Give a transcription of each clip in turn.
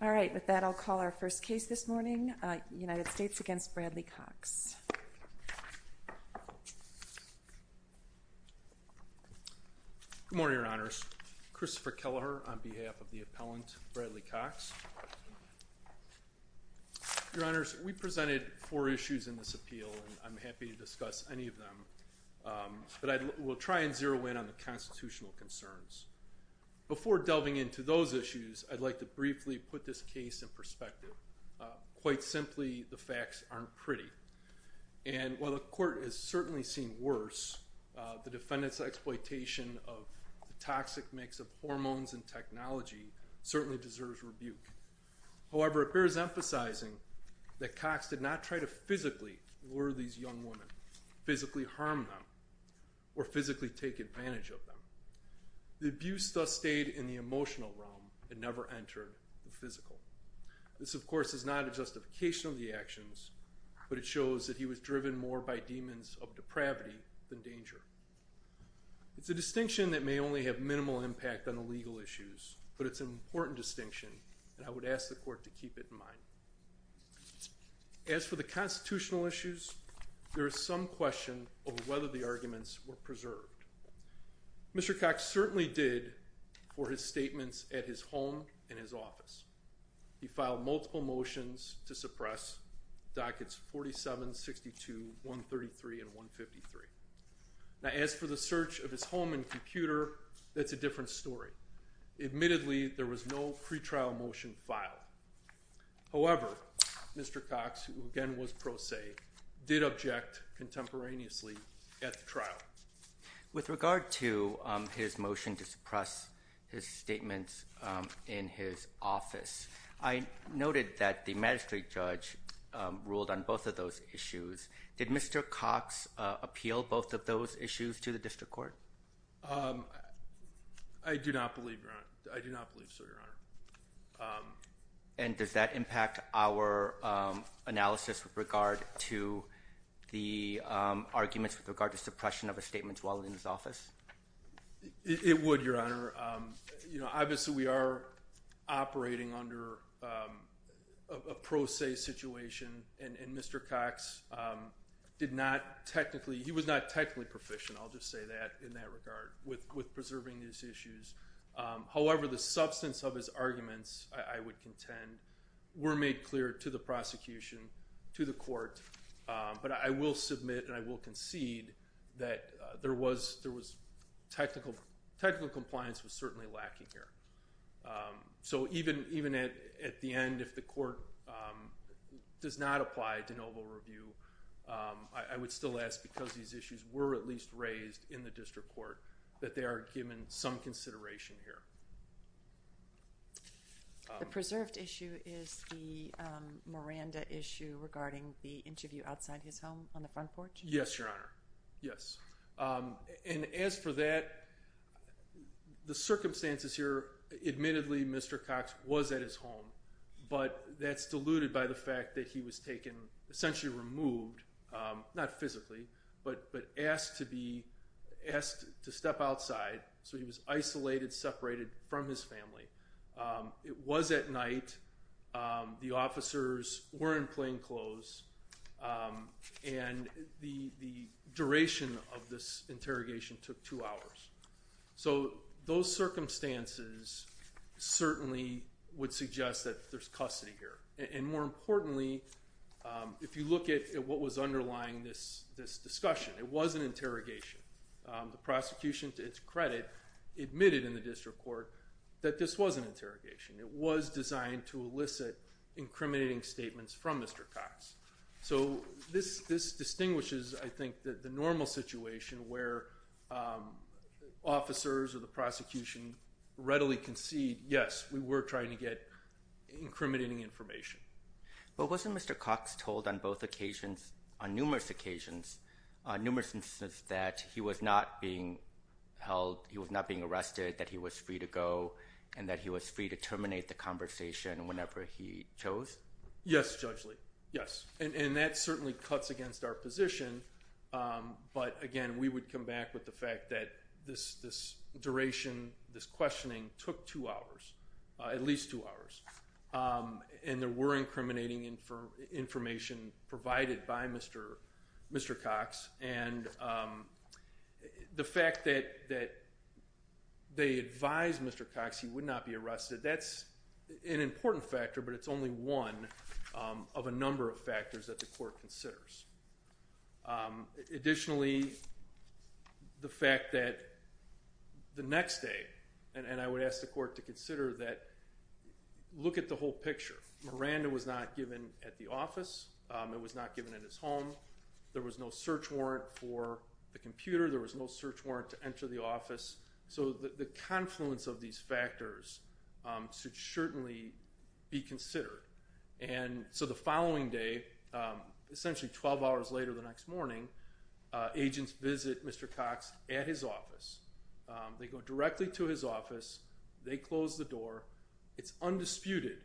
Good morning, your honors. Christopher Kelleher on behalf of the appellant Bradley Cox. Your honors, we presented four issues in this appeal, and I'm happy to discuss any of them, but I will try and zero in on the constitutional concerns. Before delving into those issues, I'd like to briefly put this case in perspective. Quite simply, the facts aren't pretty, and while the court has certainly seen worse, the defendant's exploitation of the toxic mix of hormones and technology certainly deserves rebuke. However, it bears emphasizing that Cox did not try to physically lure these young women, physically harm them, or physically take advantage of them. The abuse, thus, stayed in the emotional realm and never entered the physical. This, of course, is not a justification of the actions, but it shows that he was driven more by demons of depravity than danger. It's a distinction that may only have minimal impact on the legal issues, but it's an important distinction, and I would ask the court to keep it in mind. As for the constitutional issues, there is some question over whether the arguments were preserved. Mr. Cox certainly did for his statements at his home and his office. He filed multiple motions to suppress dockets 47, 62, 133, and 153. Now, as for the search of his home and computer, that's a different story. Admittedly, there was no pretrial motion filed. However, Mr. Cox, who again was pro se, did object contemporaneously at the trial. With regard to his motion to suppress his statements in his office, I noted that the magistrate judge ruled on both of those issues. Did Mr. Cox appeal both of those issues to the district court? I do not believe so, Your Honor. And does that impact our analysis with regard to the arguments with regard to suppression of a statement while in his office? It would, Your Honor. Obviously, we are operating under a pro se situation, and Mr. Cox did not technically, he was not technically proficient, I'll just say that in that regard, with preserving these issues. However, the substance of his arguments, I would contend, were made clear to the prosecution, to the court, but I will submit and I will concede that there was technical compliance was certainly lacking here. So even at the end, if the court does not apply de novo review, I would still ask, because these issues were at least raised in the district court, that they are given some consideration here. The preserved issue is the Miranda issue regarding the interview outside his home on the front porch? Yes, Your Honor. Yes. And as for that, the circumstances here, admittedly Mr. Cox was at his home, but that's diluted by the fact that he was taken, essentially removed, not physically, but asked to step outside, so he was isolated, separated from his family. It was at night, the officers were in plainclothes, and the duration of this interrogation took two hours. So those circumstances certainly would suggest that there's custody here. And more importantly, if you look at what was underlying this discussion, it was an interrogation. The prosecution, to its credit, admitted in the district court that this was an interrogation. It was designed to elicit incriminating statements from Mr. Cox. So this distinguishes, I think, the normal situation where officers or the prosecution readily concede, yes, we were trying to get incriminating information. But wasn't Mr. Cox told on both occasions, on numerous occasions, numerous instances, that he was not being held, he was not being arrested, that he was free to go, and that he was free to terminate the conversation whenever he chose? Yes, Judge Lee. Yes. And that certainly cuts against our position, but again, we would come back with the fact that this duration, this questioning, took two hours, at least two hours. And there were incriminating information provided by Mr. Cox. And the fact that they advised Mr. Cox he would not be arrested, that's an important factor, but it's only one of a number of factors that the court considers. Additionally, the fact that the next day, and I would ask the court to consider that, look at the whole picture. Miranda was not given at the office. It was not given in his home. There was no search warrant for the computer. There was no search warrant to enter the office. So the confluence of these factors should certainly be considered. And so the following day, essentially 12 hours later the next morning, agents visit Mr. Cox at his office. They go directly to his office. They close the door. It's undisputed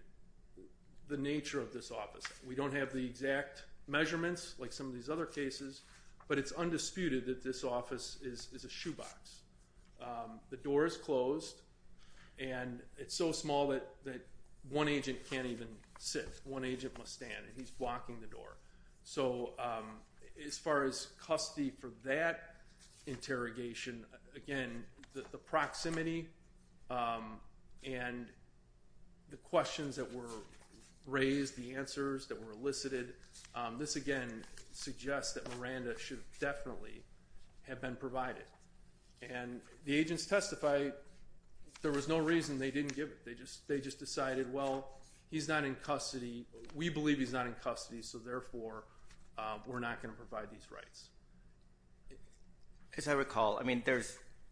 the nature of this office. We don't have the exact measurements like some of these other cases, but it's undisputed that this office is a shoebox. The door is closed, and it's so small that one agent can't even sit. One agent must stand, and he's blocking the door. So as far as custody for that interrogation, again the proximity and the questions that were raised, the answers that were elicited, this again suggests that Miranda should definitely have been provided. And the agents testified there was no reason they didn't give it. They just decided, well, he's not in custody. We believe he's not in custody, so therefore we're not going to provide these rights. As I recall, I mean,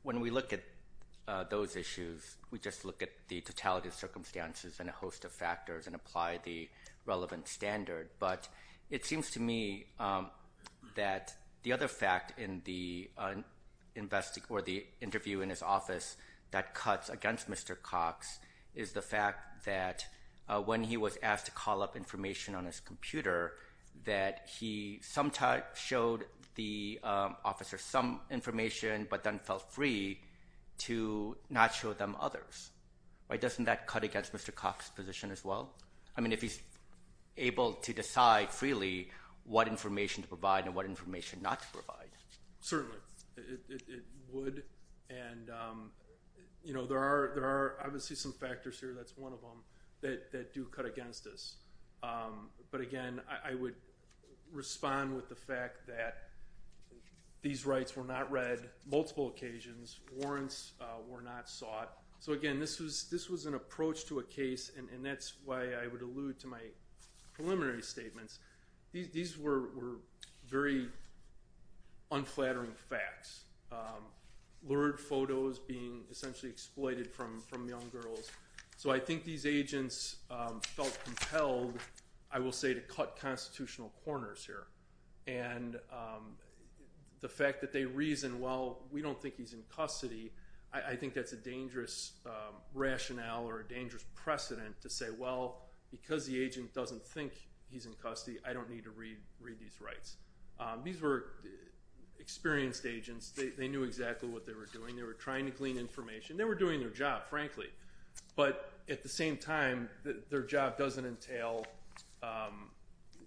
when we look at those issues, we just look at the totality of circumstances and a host of factors and apply the relevant standard. But it seems to me that the other fact in the interview in his office that cuts against Mr. Cox is the fact that when he was asked to call up information on his computer, that he sometimes showed the officer some information but then felt free to not show them others. Why doesn't that cut against Mr. Cox's position as well? I mean, if he's able to decide freely what information to provide and what information not to provide. Certainly, it would. And you know, there are obviously some factors here, that's one of them, that do cut against us. But again, I would respond with the fact that these rights were not read multiple occasions. Warrants were not sought. So again, this was an approach to a case, and that's why I would allude to my preliminary statements. These were very unflattering facts. Lurid photos being essentially exploited from young girls. So I think these agents felt compelled, I will say, to cut constitutional corners here. And the fact that they reason, well, we don't think he's in custody, I think that's a dangerous rationale or a dangerous precedent to say, well, because the agent doesn't think he's in custody, I don't need to read these rights. These were experienced agents. They knew exactly what they were doing. They were trying to glean information. They were doing their job, frankly. But at the same time, their job doesn't entail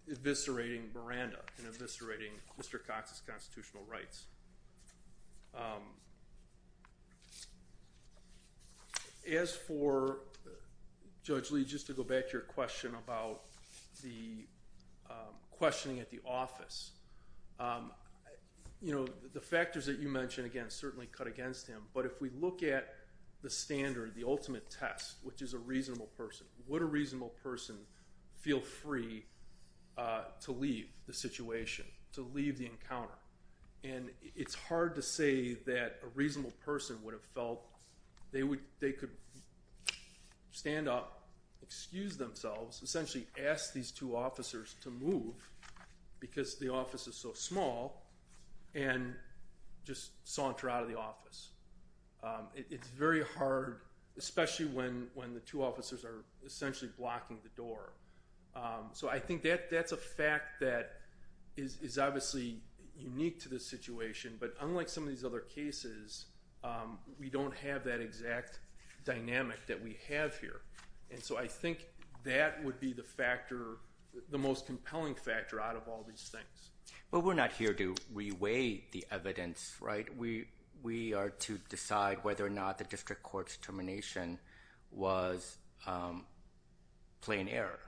eviscerating Miranda and eviscerating Mr. Cox's constitutional rights. As for Judge Lee, just to go back to your question about the questioning at the office, you know, the factors that you mentioned, again, certainly cut against him. But if we look at the ultimate test, which is a reasonable person, would a reasonable person feel free to leave the situation, to leave the encounter? And it's hard to say that a reasonable person would have felt they could stand up, excuse themselves, essentially ask these two officers to move because the office is so small, and just saunter out of the office. It's very hard, especially when when the two officers are essentially blocking the door. So I think that that's a fact that is obviously unique to this situation. But unlike some of these other cases, we don't have that exact dynamic that we have here. And so I think that would be the factor, the most compelling factor out of all these things. But we're not here to reweigh the evidence, right? We are to decide whether or not the district court's termination was plain error,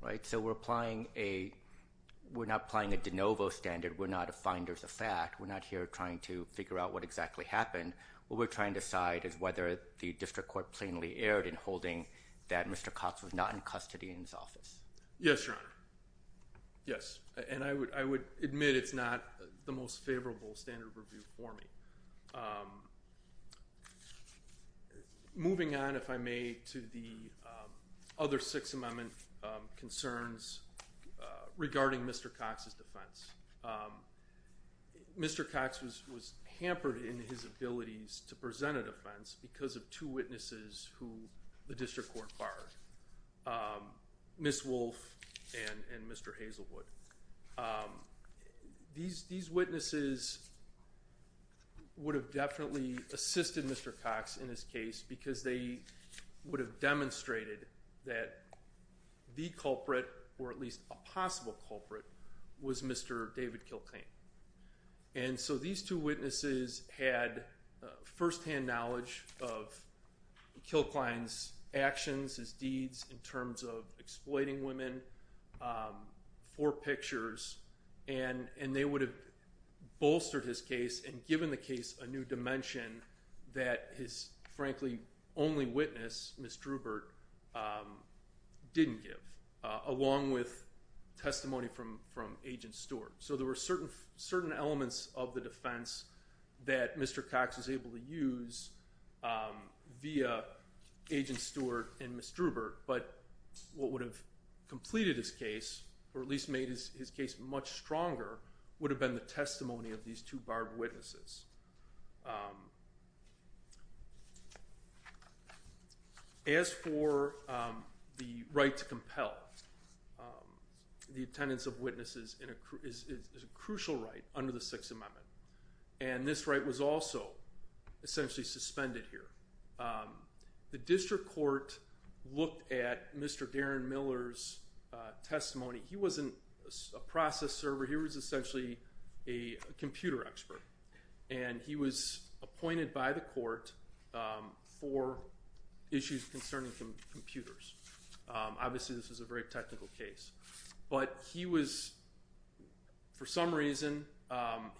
right? So we're applying a, we're not applying a de novo standard. We're not a finder's effect. We're not here trying to figure out what exactly happened. What we're trying to decide is whether the district court plainly erred in holding that Mr. Cox was not in custody in his office. Yes, Your Honor. Yes. And I would, I would admit it's not the most favorable standard of review for me. Moving on, if I may, to the other Sixth Amendment concerns regarding Mr. Cox's defense. Mr. Cox was hampered in his abilities to present a defense because of two witnesses who the district court barred. Ms. Wolfe and Mr. Hazelwood. These witnesses would have definitely assisted Mr. Cox in this case because they would have demonstrated that the culprit, or at least a possible culprit, was Mr. David Kilcain. And so these two witnesses had firsthand knowledge of Kilcain's actions, his deeds, in terms of exploiting women for pictures, and they would have bolstered his case and given the case a new dimension that his, frankly, only witness, Ms. Drubert, didn't give, along with testimony from from Agent Stewart. So there were certain, certain elements of the defense that Mr. Cox was able to use via Agent Stewart and Ms. Drubert, but what would have completed his case, or at least made his case much stronger, would have been the testimony of these two barred witnesses. As for the right to compel, the attendance of under the Sixth Amendment, and this right was also essentially suspended here. The district court looked at Mr. Darren Miller's testimony. He wasn't a process server, he was essentially a computer expert, and he was appointed by the court for issues concerning computers. Obviously this is a very technical case, but he was, for some reason,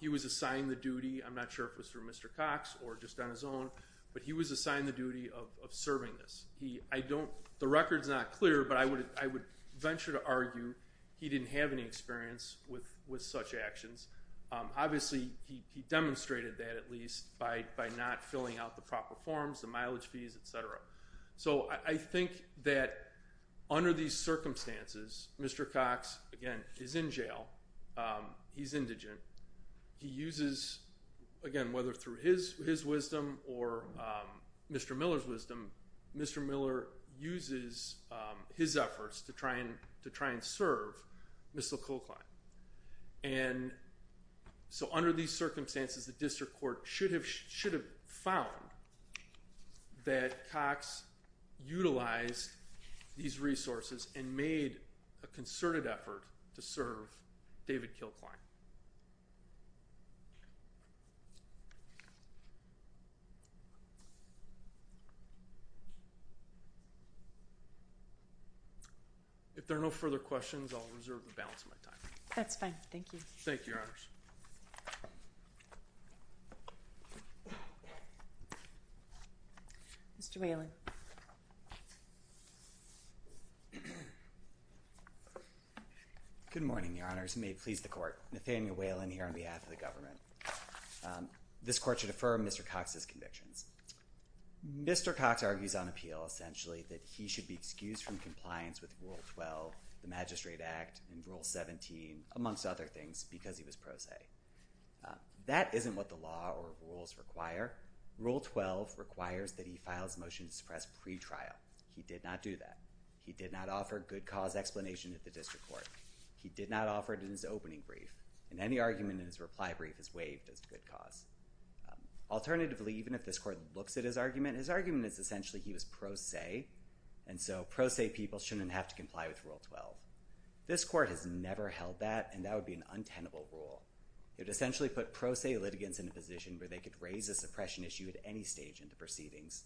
he was assigned the duty, I'm not sure if it was for Mr. Cox or just on his own, but he was assigned the duty of serving this. He, I don't, the record's not clear, but I would, I would venture to argue he didn't have any experience with with such actions. Obviously he demonstrated that at least by not filling out the proper forms, the mileage fees, etc. So I think that under these circumstances, Mr. Cox, again, is in jail. He's indigent. He uses, again, whether through his wisdom or Mr. Miller's wisdom, Mr. Miller uses his efforts to try and, to try and serve Mr. Kulkin. And so under these circumstances, the district court should have, should have found that Cox utilized these resources and made a concerted effort to serve David Kilkline. If there are no further questions, I'll reserve the balance of my time. That's fine, thank you. Thank you, Your Honors. Mr. Whelan. Good morning, Your Honors. May it please the court. Nathaniel Whelan here on behalf of the government. This court should affirm Mr. Cox's convictions. Mr. Cox argues on appeal, essentially, that he should be excused from compliance with Rule 12, the Magistrate Act, and Rule 17, amongst other things, because he was pro se. That isn't what the law or rules require. Rule 12 requires that he files a motion to suppress pretrial. He did not do that. He did not offer good cause explanation at the district court. He did not offer it in his opening brief, and any argument in his reply brief is waived as good cause. Alternatively, even if this court looks at his argument, his argument is essentially he was pro se, and so pro se people shouldn't have to comply with Rule 12. This court has never held that, and that would be an untenable rule. It essentially put pro se litigants in a position where they could raise a suppression issue at any stage in the proceedings.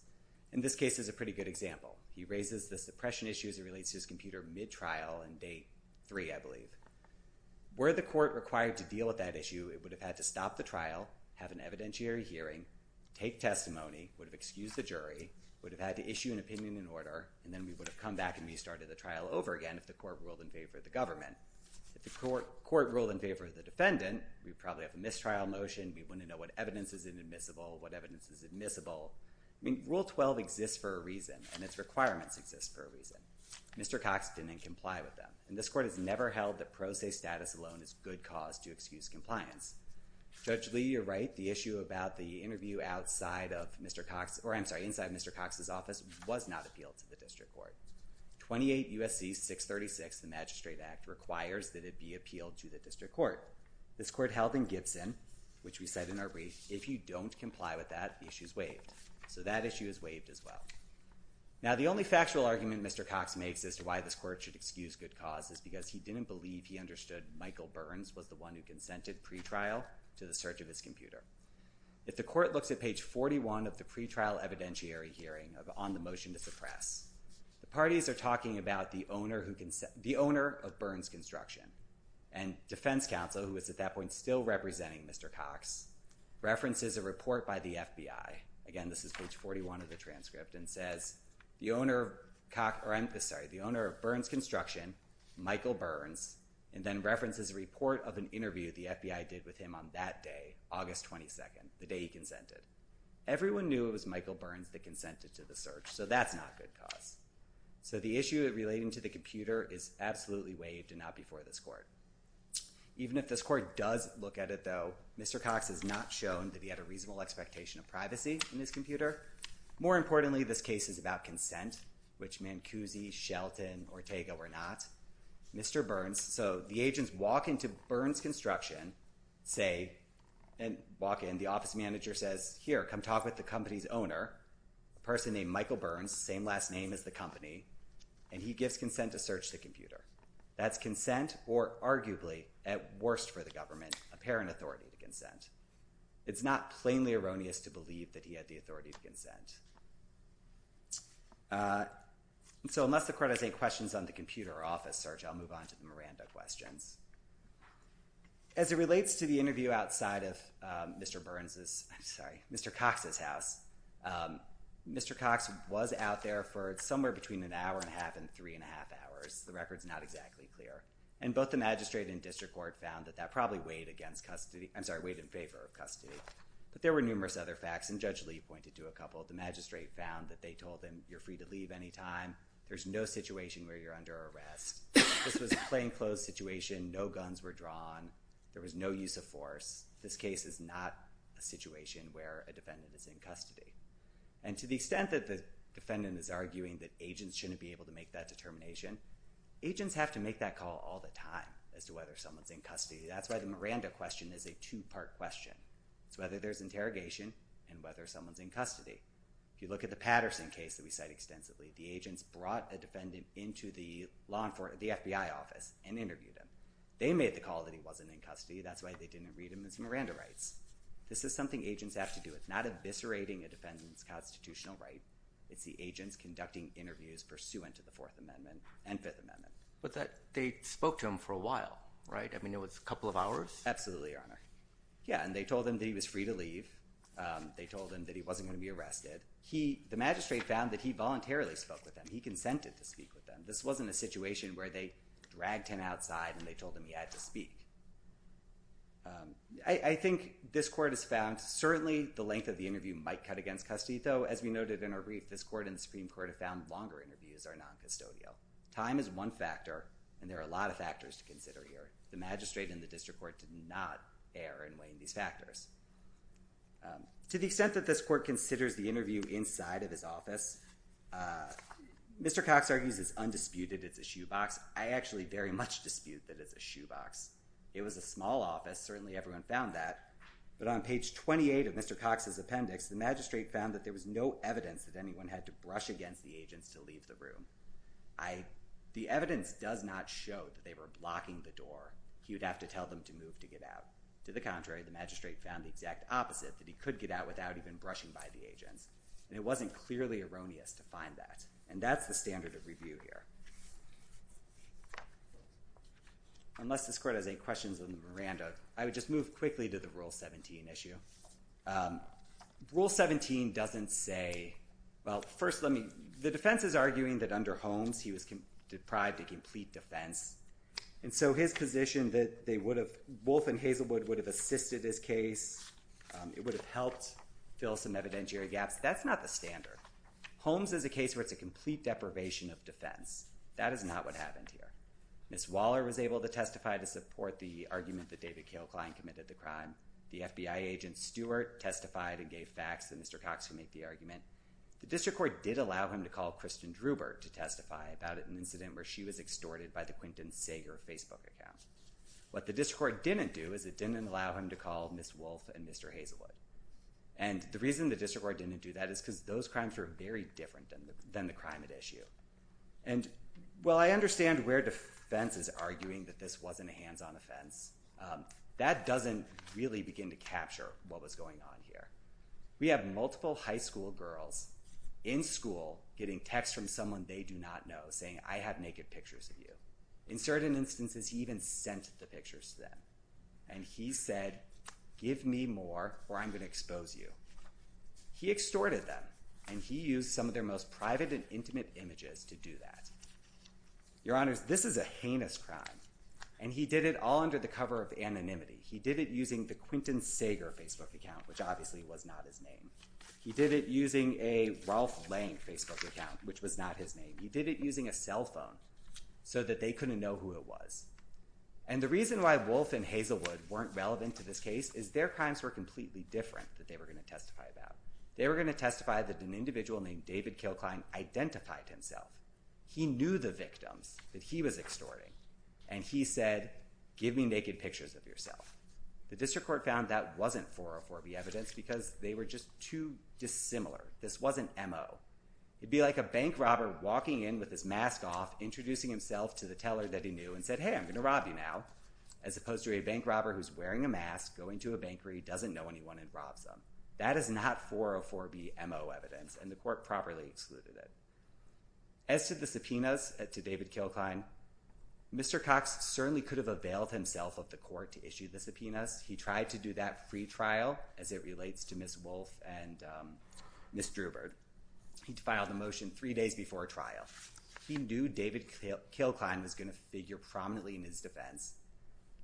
In this case is a pretty good example. He raises the suppression issue as it relates to his computer mid-trial and date 3, I believe. Were the court required to deal with that issue, it would have had to stop the trial, have an evidentiary hearing, take testimony, would have excused the jury, would have had to issue an opinion in order, and then we would have come back and restarted the trial over again if the court ruled in favor of the government. If the court ruled in favor of the defendant, we probably have a mistrial motion, we wouldn't know what evidence is inadmissible, what evidence is admissible. Rule 12 exists for a reason, and its requirements exist for a reason. Mr. Cox didn't comply with them, and this court has never held that pro se status alone is good cause to excuse compliance. Judge Lee, you're right. The issue about the interview outside of Mr. Cox, or I'm sorry, inside Mr. Cox's office was not appealed to the district court. 28 U.S.C. 636, the Magistrate Act, requires that it be appealed to the district court. This court held in Gibson, which we said in our brief, if you don't comply with that, the issue is waived. So that issue is waived as well. Now the only factual argument Mr. Cox makes as to why this court should excuse good cause is because he didn't believe he understood Michael Burns was the one who consented pretrial to the search of his computer. If the motion to suppress. The parties are talking about the owner of Burns Construction, and Defense Counsel, who is at that point still representing Mr. Cox, references a report by the FBI, again this is page 41 of the transcript, and says the owner of Burns Construction, Michael Burns, and then references a report of an interview the FBI did with him on that day, August 22nd, the day he So that's not good cause. So the issue relating to the computer is absolutely waived and not before this court. Even if this court does look at it though, Mr. Cox has not shown that he had a reasonable expectation of privacy in his computer. More importantly, this case is about consent, which Mancusi, Shelton, Ortega were not. Mr. Burns, so the agents walk into Burns Construction, say, and walk in, the office manager says, here, come talk with the company's owner, a person named Michael Burns, same last name as the company, and he gives consent to search the computer. That's consent, or arguably, at worst for the government, apparent authority to consent. It's not plainly erroneous to believe that he had the authority to consent. So unless the court has any questions on the computer or office search, I'll move on to the Miranda questions. As it relates to the interview outside of Mr. Cox's house, Mr. Cox was out there for somewhere between an hour and a half and three and a half hours. The record's not exactly clear. And both the magistrate and district court found that that probably weighed against custody, I'm sorry, weighed in favor of custody. But there were numerous other facts, and Judge Lee pointed to a couple. The magistrate found that they told him, you're free to leave anytime. There's no situation where you're under arrest. This was a plainclothes situation. No guns were drawn. There was no use of force. This case is not a situation where a defendant is in custody. And to the extent that the defendant is arguing that agents shouldn't be able to make that determination, agents have to make that call all the time as to whether someone's in custody. That's why the Miranda question is a two-part question. It's whether there's interrogation and whether someone's in custody. If you look at the Patterson case that we cite they made the call that he wasn't in custody. That's why they didn't read him as Miranda writes. This is something agents have to do. It's not eviscerating a defendant's constitutional right. It's the agents conducting interviews pursuant to the Fourth Amendment and Fifth Amendment. But that they spoke to him for a while, right? I mean, it was a couple of hours? Absolutely, Your Honor. Yeah, and they told him that he was free to leave. They told him that he wasn't going to be arrested. The magistrate found that he voluntarily spoke with them. He consented to speak with them. This wasn't a situation where they dragged him outside and they told him he had to speak. I think this court has found certainly the length of the interview might cut against custody, though. As we noted in our brief, this court and the Supreme Court have found longer interviews are non-custodial. Time is one factor, and there are a lot of factors to consider here. The magistrate and the district court did not err in weighing these factors. To the extent that this court considers the interview inside of his office, Mr. Cox argues it's undisputed it's a shoebox. I actually very much dispute that it's a shoebox. It was a small office. Certainly everyone found that. But on page 28 of Mr. Cox's appendix, the magistrate found that there was no evidence that anyone had to brush against the agents to leave the room. The evidence does not show that they were blocking the door. He would have to tell them to move to get out. To the contrary, the magistrate found the exact opposite, that he could get out without even brushing by the agents. And it wasn't clearly erroneous to find that. And that's the standard of review here. Unless this court has any questions on Miranda, I would just move quickly to the Rule 17 issue. Rule 17 doesn't say, well, first let me, the defense is arguing that under Holmes, he was deprived of complete defense. And so his position that they would have, Wolf and Hazelwood would have assisted his case, it would have helped fill some evidentiary gaps, that's not the standard. Holmes is a case where it's a complete deprivation of defense. That is not what happened here. Ms. Waller was able to testify to support the argument that David Cale Klein committed the crime. The FBI agent, Stewart, testified and gave facts, and Mr. Cox could make the argument. The district court did allow him to call Kristen Drubert to testify about an incident where she was extorted by the Quinton Sager Facebook account. What the district court didn't do is it didn't allow him to call Ms. Wolf and Mr. Hazelwood. And the reason the district court didn't do that is because those crimes were very different than the crime at issue. And while I understand where defense is arguing that this wasn't a hands-on offense, that doesn't really begin to capture what was going on here. We have multiple high school girls in school getting texts from someone they do not know saying, I have naked pictures of you. In certain instances, he even sent the pictures to them. And he said, give me more or I'm going to expose you. He extorted them, and he used some of their most private and intimate images to do that. Your Honors, this is a heinous crime, and he did it all under the cover of anonymity. He did it using the Quinton Sager Facebook account, which obviously was not his name. He did it using a Ralph Lange Facebook account, which was not his name. He did it using a cell phone so that they couldn't know who it was. And the reason why Wolf and Hazelwood weren't relevant to this case is their crimes were completely different that they were going to testify about. They were going to testify that an individual named David Kilkline identified himself. He knew the victims that he was extorting, and he said, give me naked pictures of yourself. The district court found that wasn't 404B evidence because they were just too dissimilar. This wasn't MO. It would be like a bank robber walking in with his mask off, introducing himself to the teller that he knew and said, hey, I'm going to rob you now, as opposed to a bank robber who's wearing a mask, going to a bank where he doesn't know anyone and robs them. That is not 404B MO evidence, and the court properly excluded it. As to the subpoenas to David Kilkline, Mr. Cox certainly could have availed himself of the court to issue the subpoenas. He tried to do that free trial, as it relates to Ms. Wolf and Ms. Drubert. He filed the motion three days before trial. He knew David Kilkline was going to figure prominently in his defense,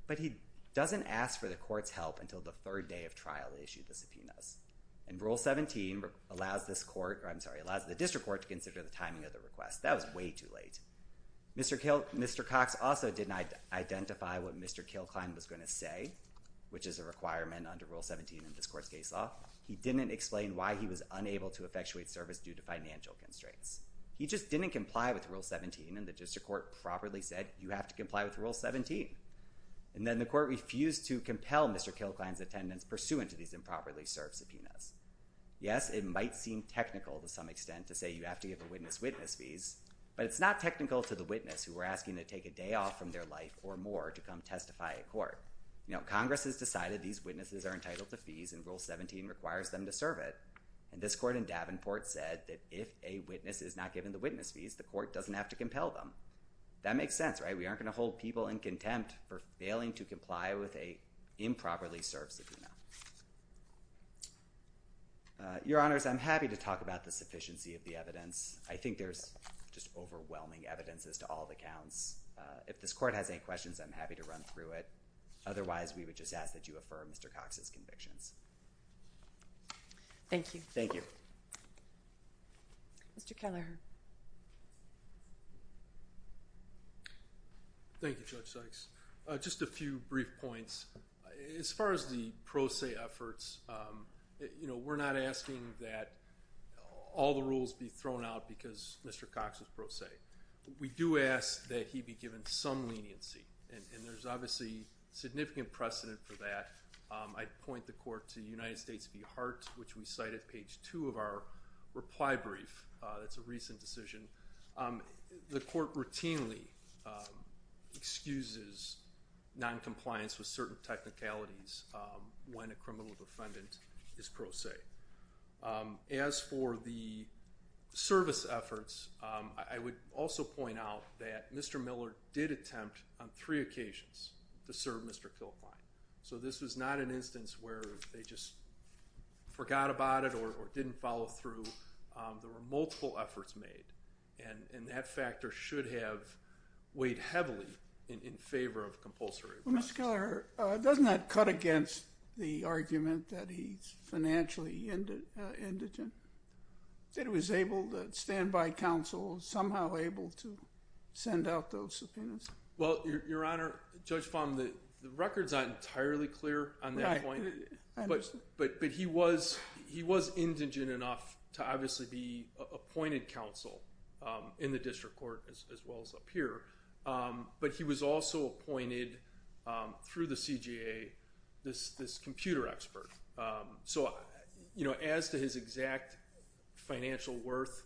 but he doesn't ask for the court's help until the third day of trial they issue the subpoenas. And Rule 17 allows the district court to consider the timing of the request. That was way too late. Mr. Cox also did not identify what Mr. Kilkline was going to say, which is a requirement under Rule 17 in this court's case law. He didn't explain why he was unable to effectuate service due to financial constraints. He just didn't comply with Rule 17, and the district court properly said, you have to comply with Rule 17. And then the court refused to compel Mr. Kilkline's attendance pursuant to these improperly served subpoenas. Yes, it might seem technical to some extent to say you have to give a witness witness fees, but it's not technical to the witness who we're asking to take a day off from their life or more to come testify in court. You know, Congress has decided these witnesses are entitled to fees, and Rule 17 requires them to serve it. And this court in Davenport said that if a witness is not given the witness fees, the court doesn't have to compel them. That makes sense, right? We aren't going to hold people in contempt for failing to comply with an improperly served subpoena. Your Honors, I'm happy to talk about the sufficiency of the evidence. I think there's just overwhelming evidence as to all the counts. If this court has any questions, I'm happy to run through it. Otherwise, we would just ask that you affirm Mr. Cox's convictions. Thank you. Thank you. Mr. Kelleher. Thank you, Judge Sykes. Just a few brief points. As far as the pro se efforts, you know, we're not asking that all the rules be thrown out because Mr. Cox was pro se. We do ask that he be given some leniency, and there's obviously significant precedent for that. I'd point the court to United States v. Hart, which we cite at page 2 of our reply brief. That's a recent decision. The court routinely excuses noncompliance with certain technicalities when a criminal defendant is pro se. As for the service efforts, I would also point out that Mr. Miller did attempt on three occasions to serve Mr. Kilfine. So this was not an instance where they just forgot about it or didn't follow through. There were multiple efforts made, and that factor should have weighed heavily in favor of compulsory arrest. Well, Mr. Kelleher, doesn't that cut against the argument that he's financially indigent, that he was able to stand by counsel, somehow able to send out those subpoenas? Well, Your Honor, Judge Fahm, the record's not entirely clear on that point. But he was indigent enough to obviously be appointed counsel in the district court as well as up here, but he was also appointed through the CJA this computer expert. So as to his exact financial worth,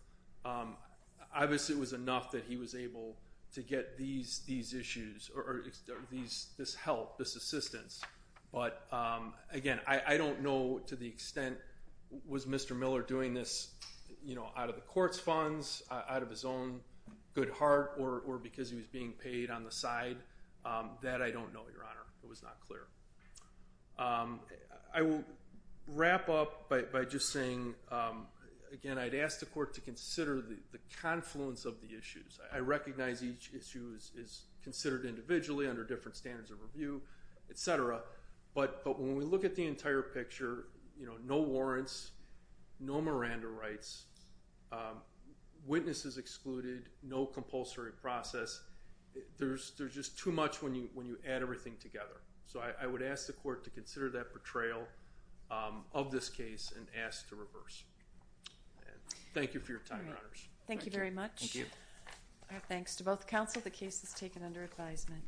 obviously it was enough that he was able to get these issues or this help, this assistance. But, again, I don't know to the extent was Mr. Miller doing this out of the court's funds, out of his own good heart, or because he was being paid on the side. That I don't know, Your Honor. It was not clear. I will wrap up by just saying, again, I'd ask the court to consider the confluence of the issues. I recognize each issue is considered individually under different standards of review, et cetera. But when we look at the entire picture, no warrants, no Miranda rights, witnesses excluded, no compulsory process, there's just too much when you add everything together. So I would ask the court to consider that portrayal of this case and ask to reverse. Thank you for your time, Your Honors. Thank you very much. Thank you. Thanks to both counsel. The case is taken under advisement.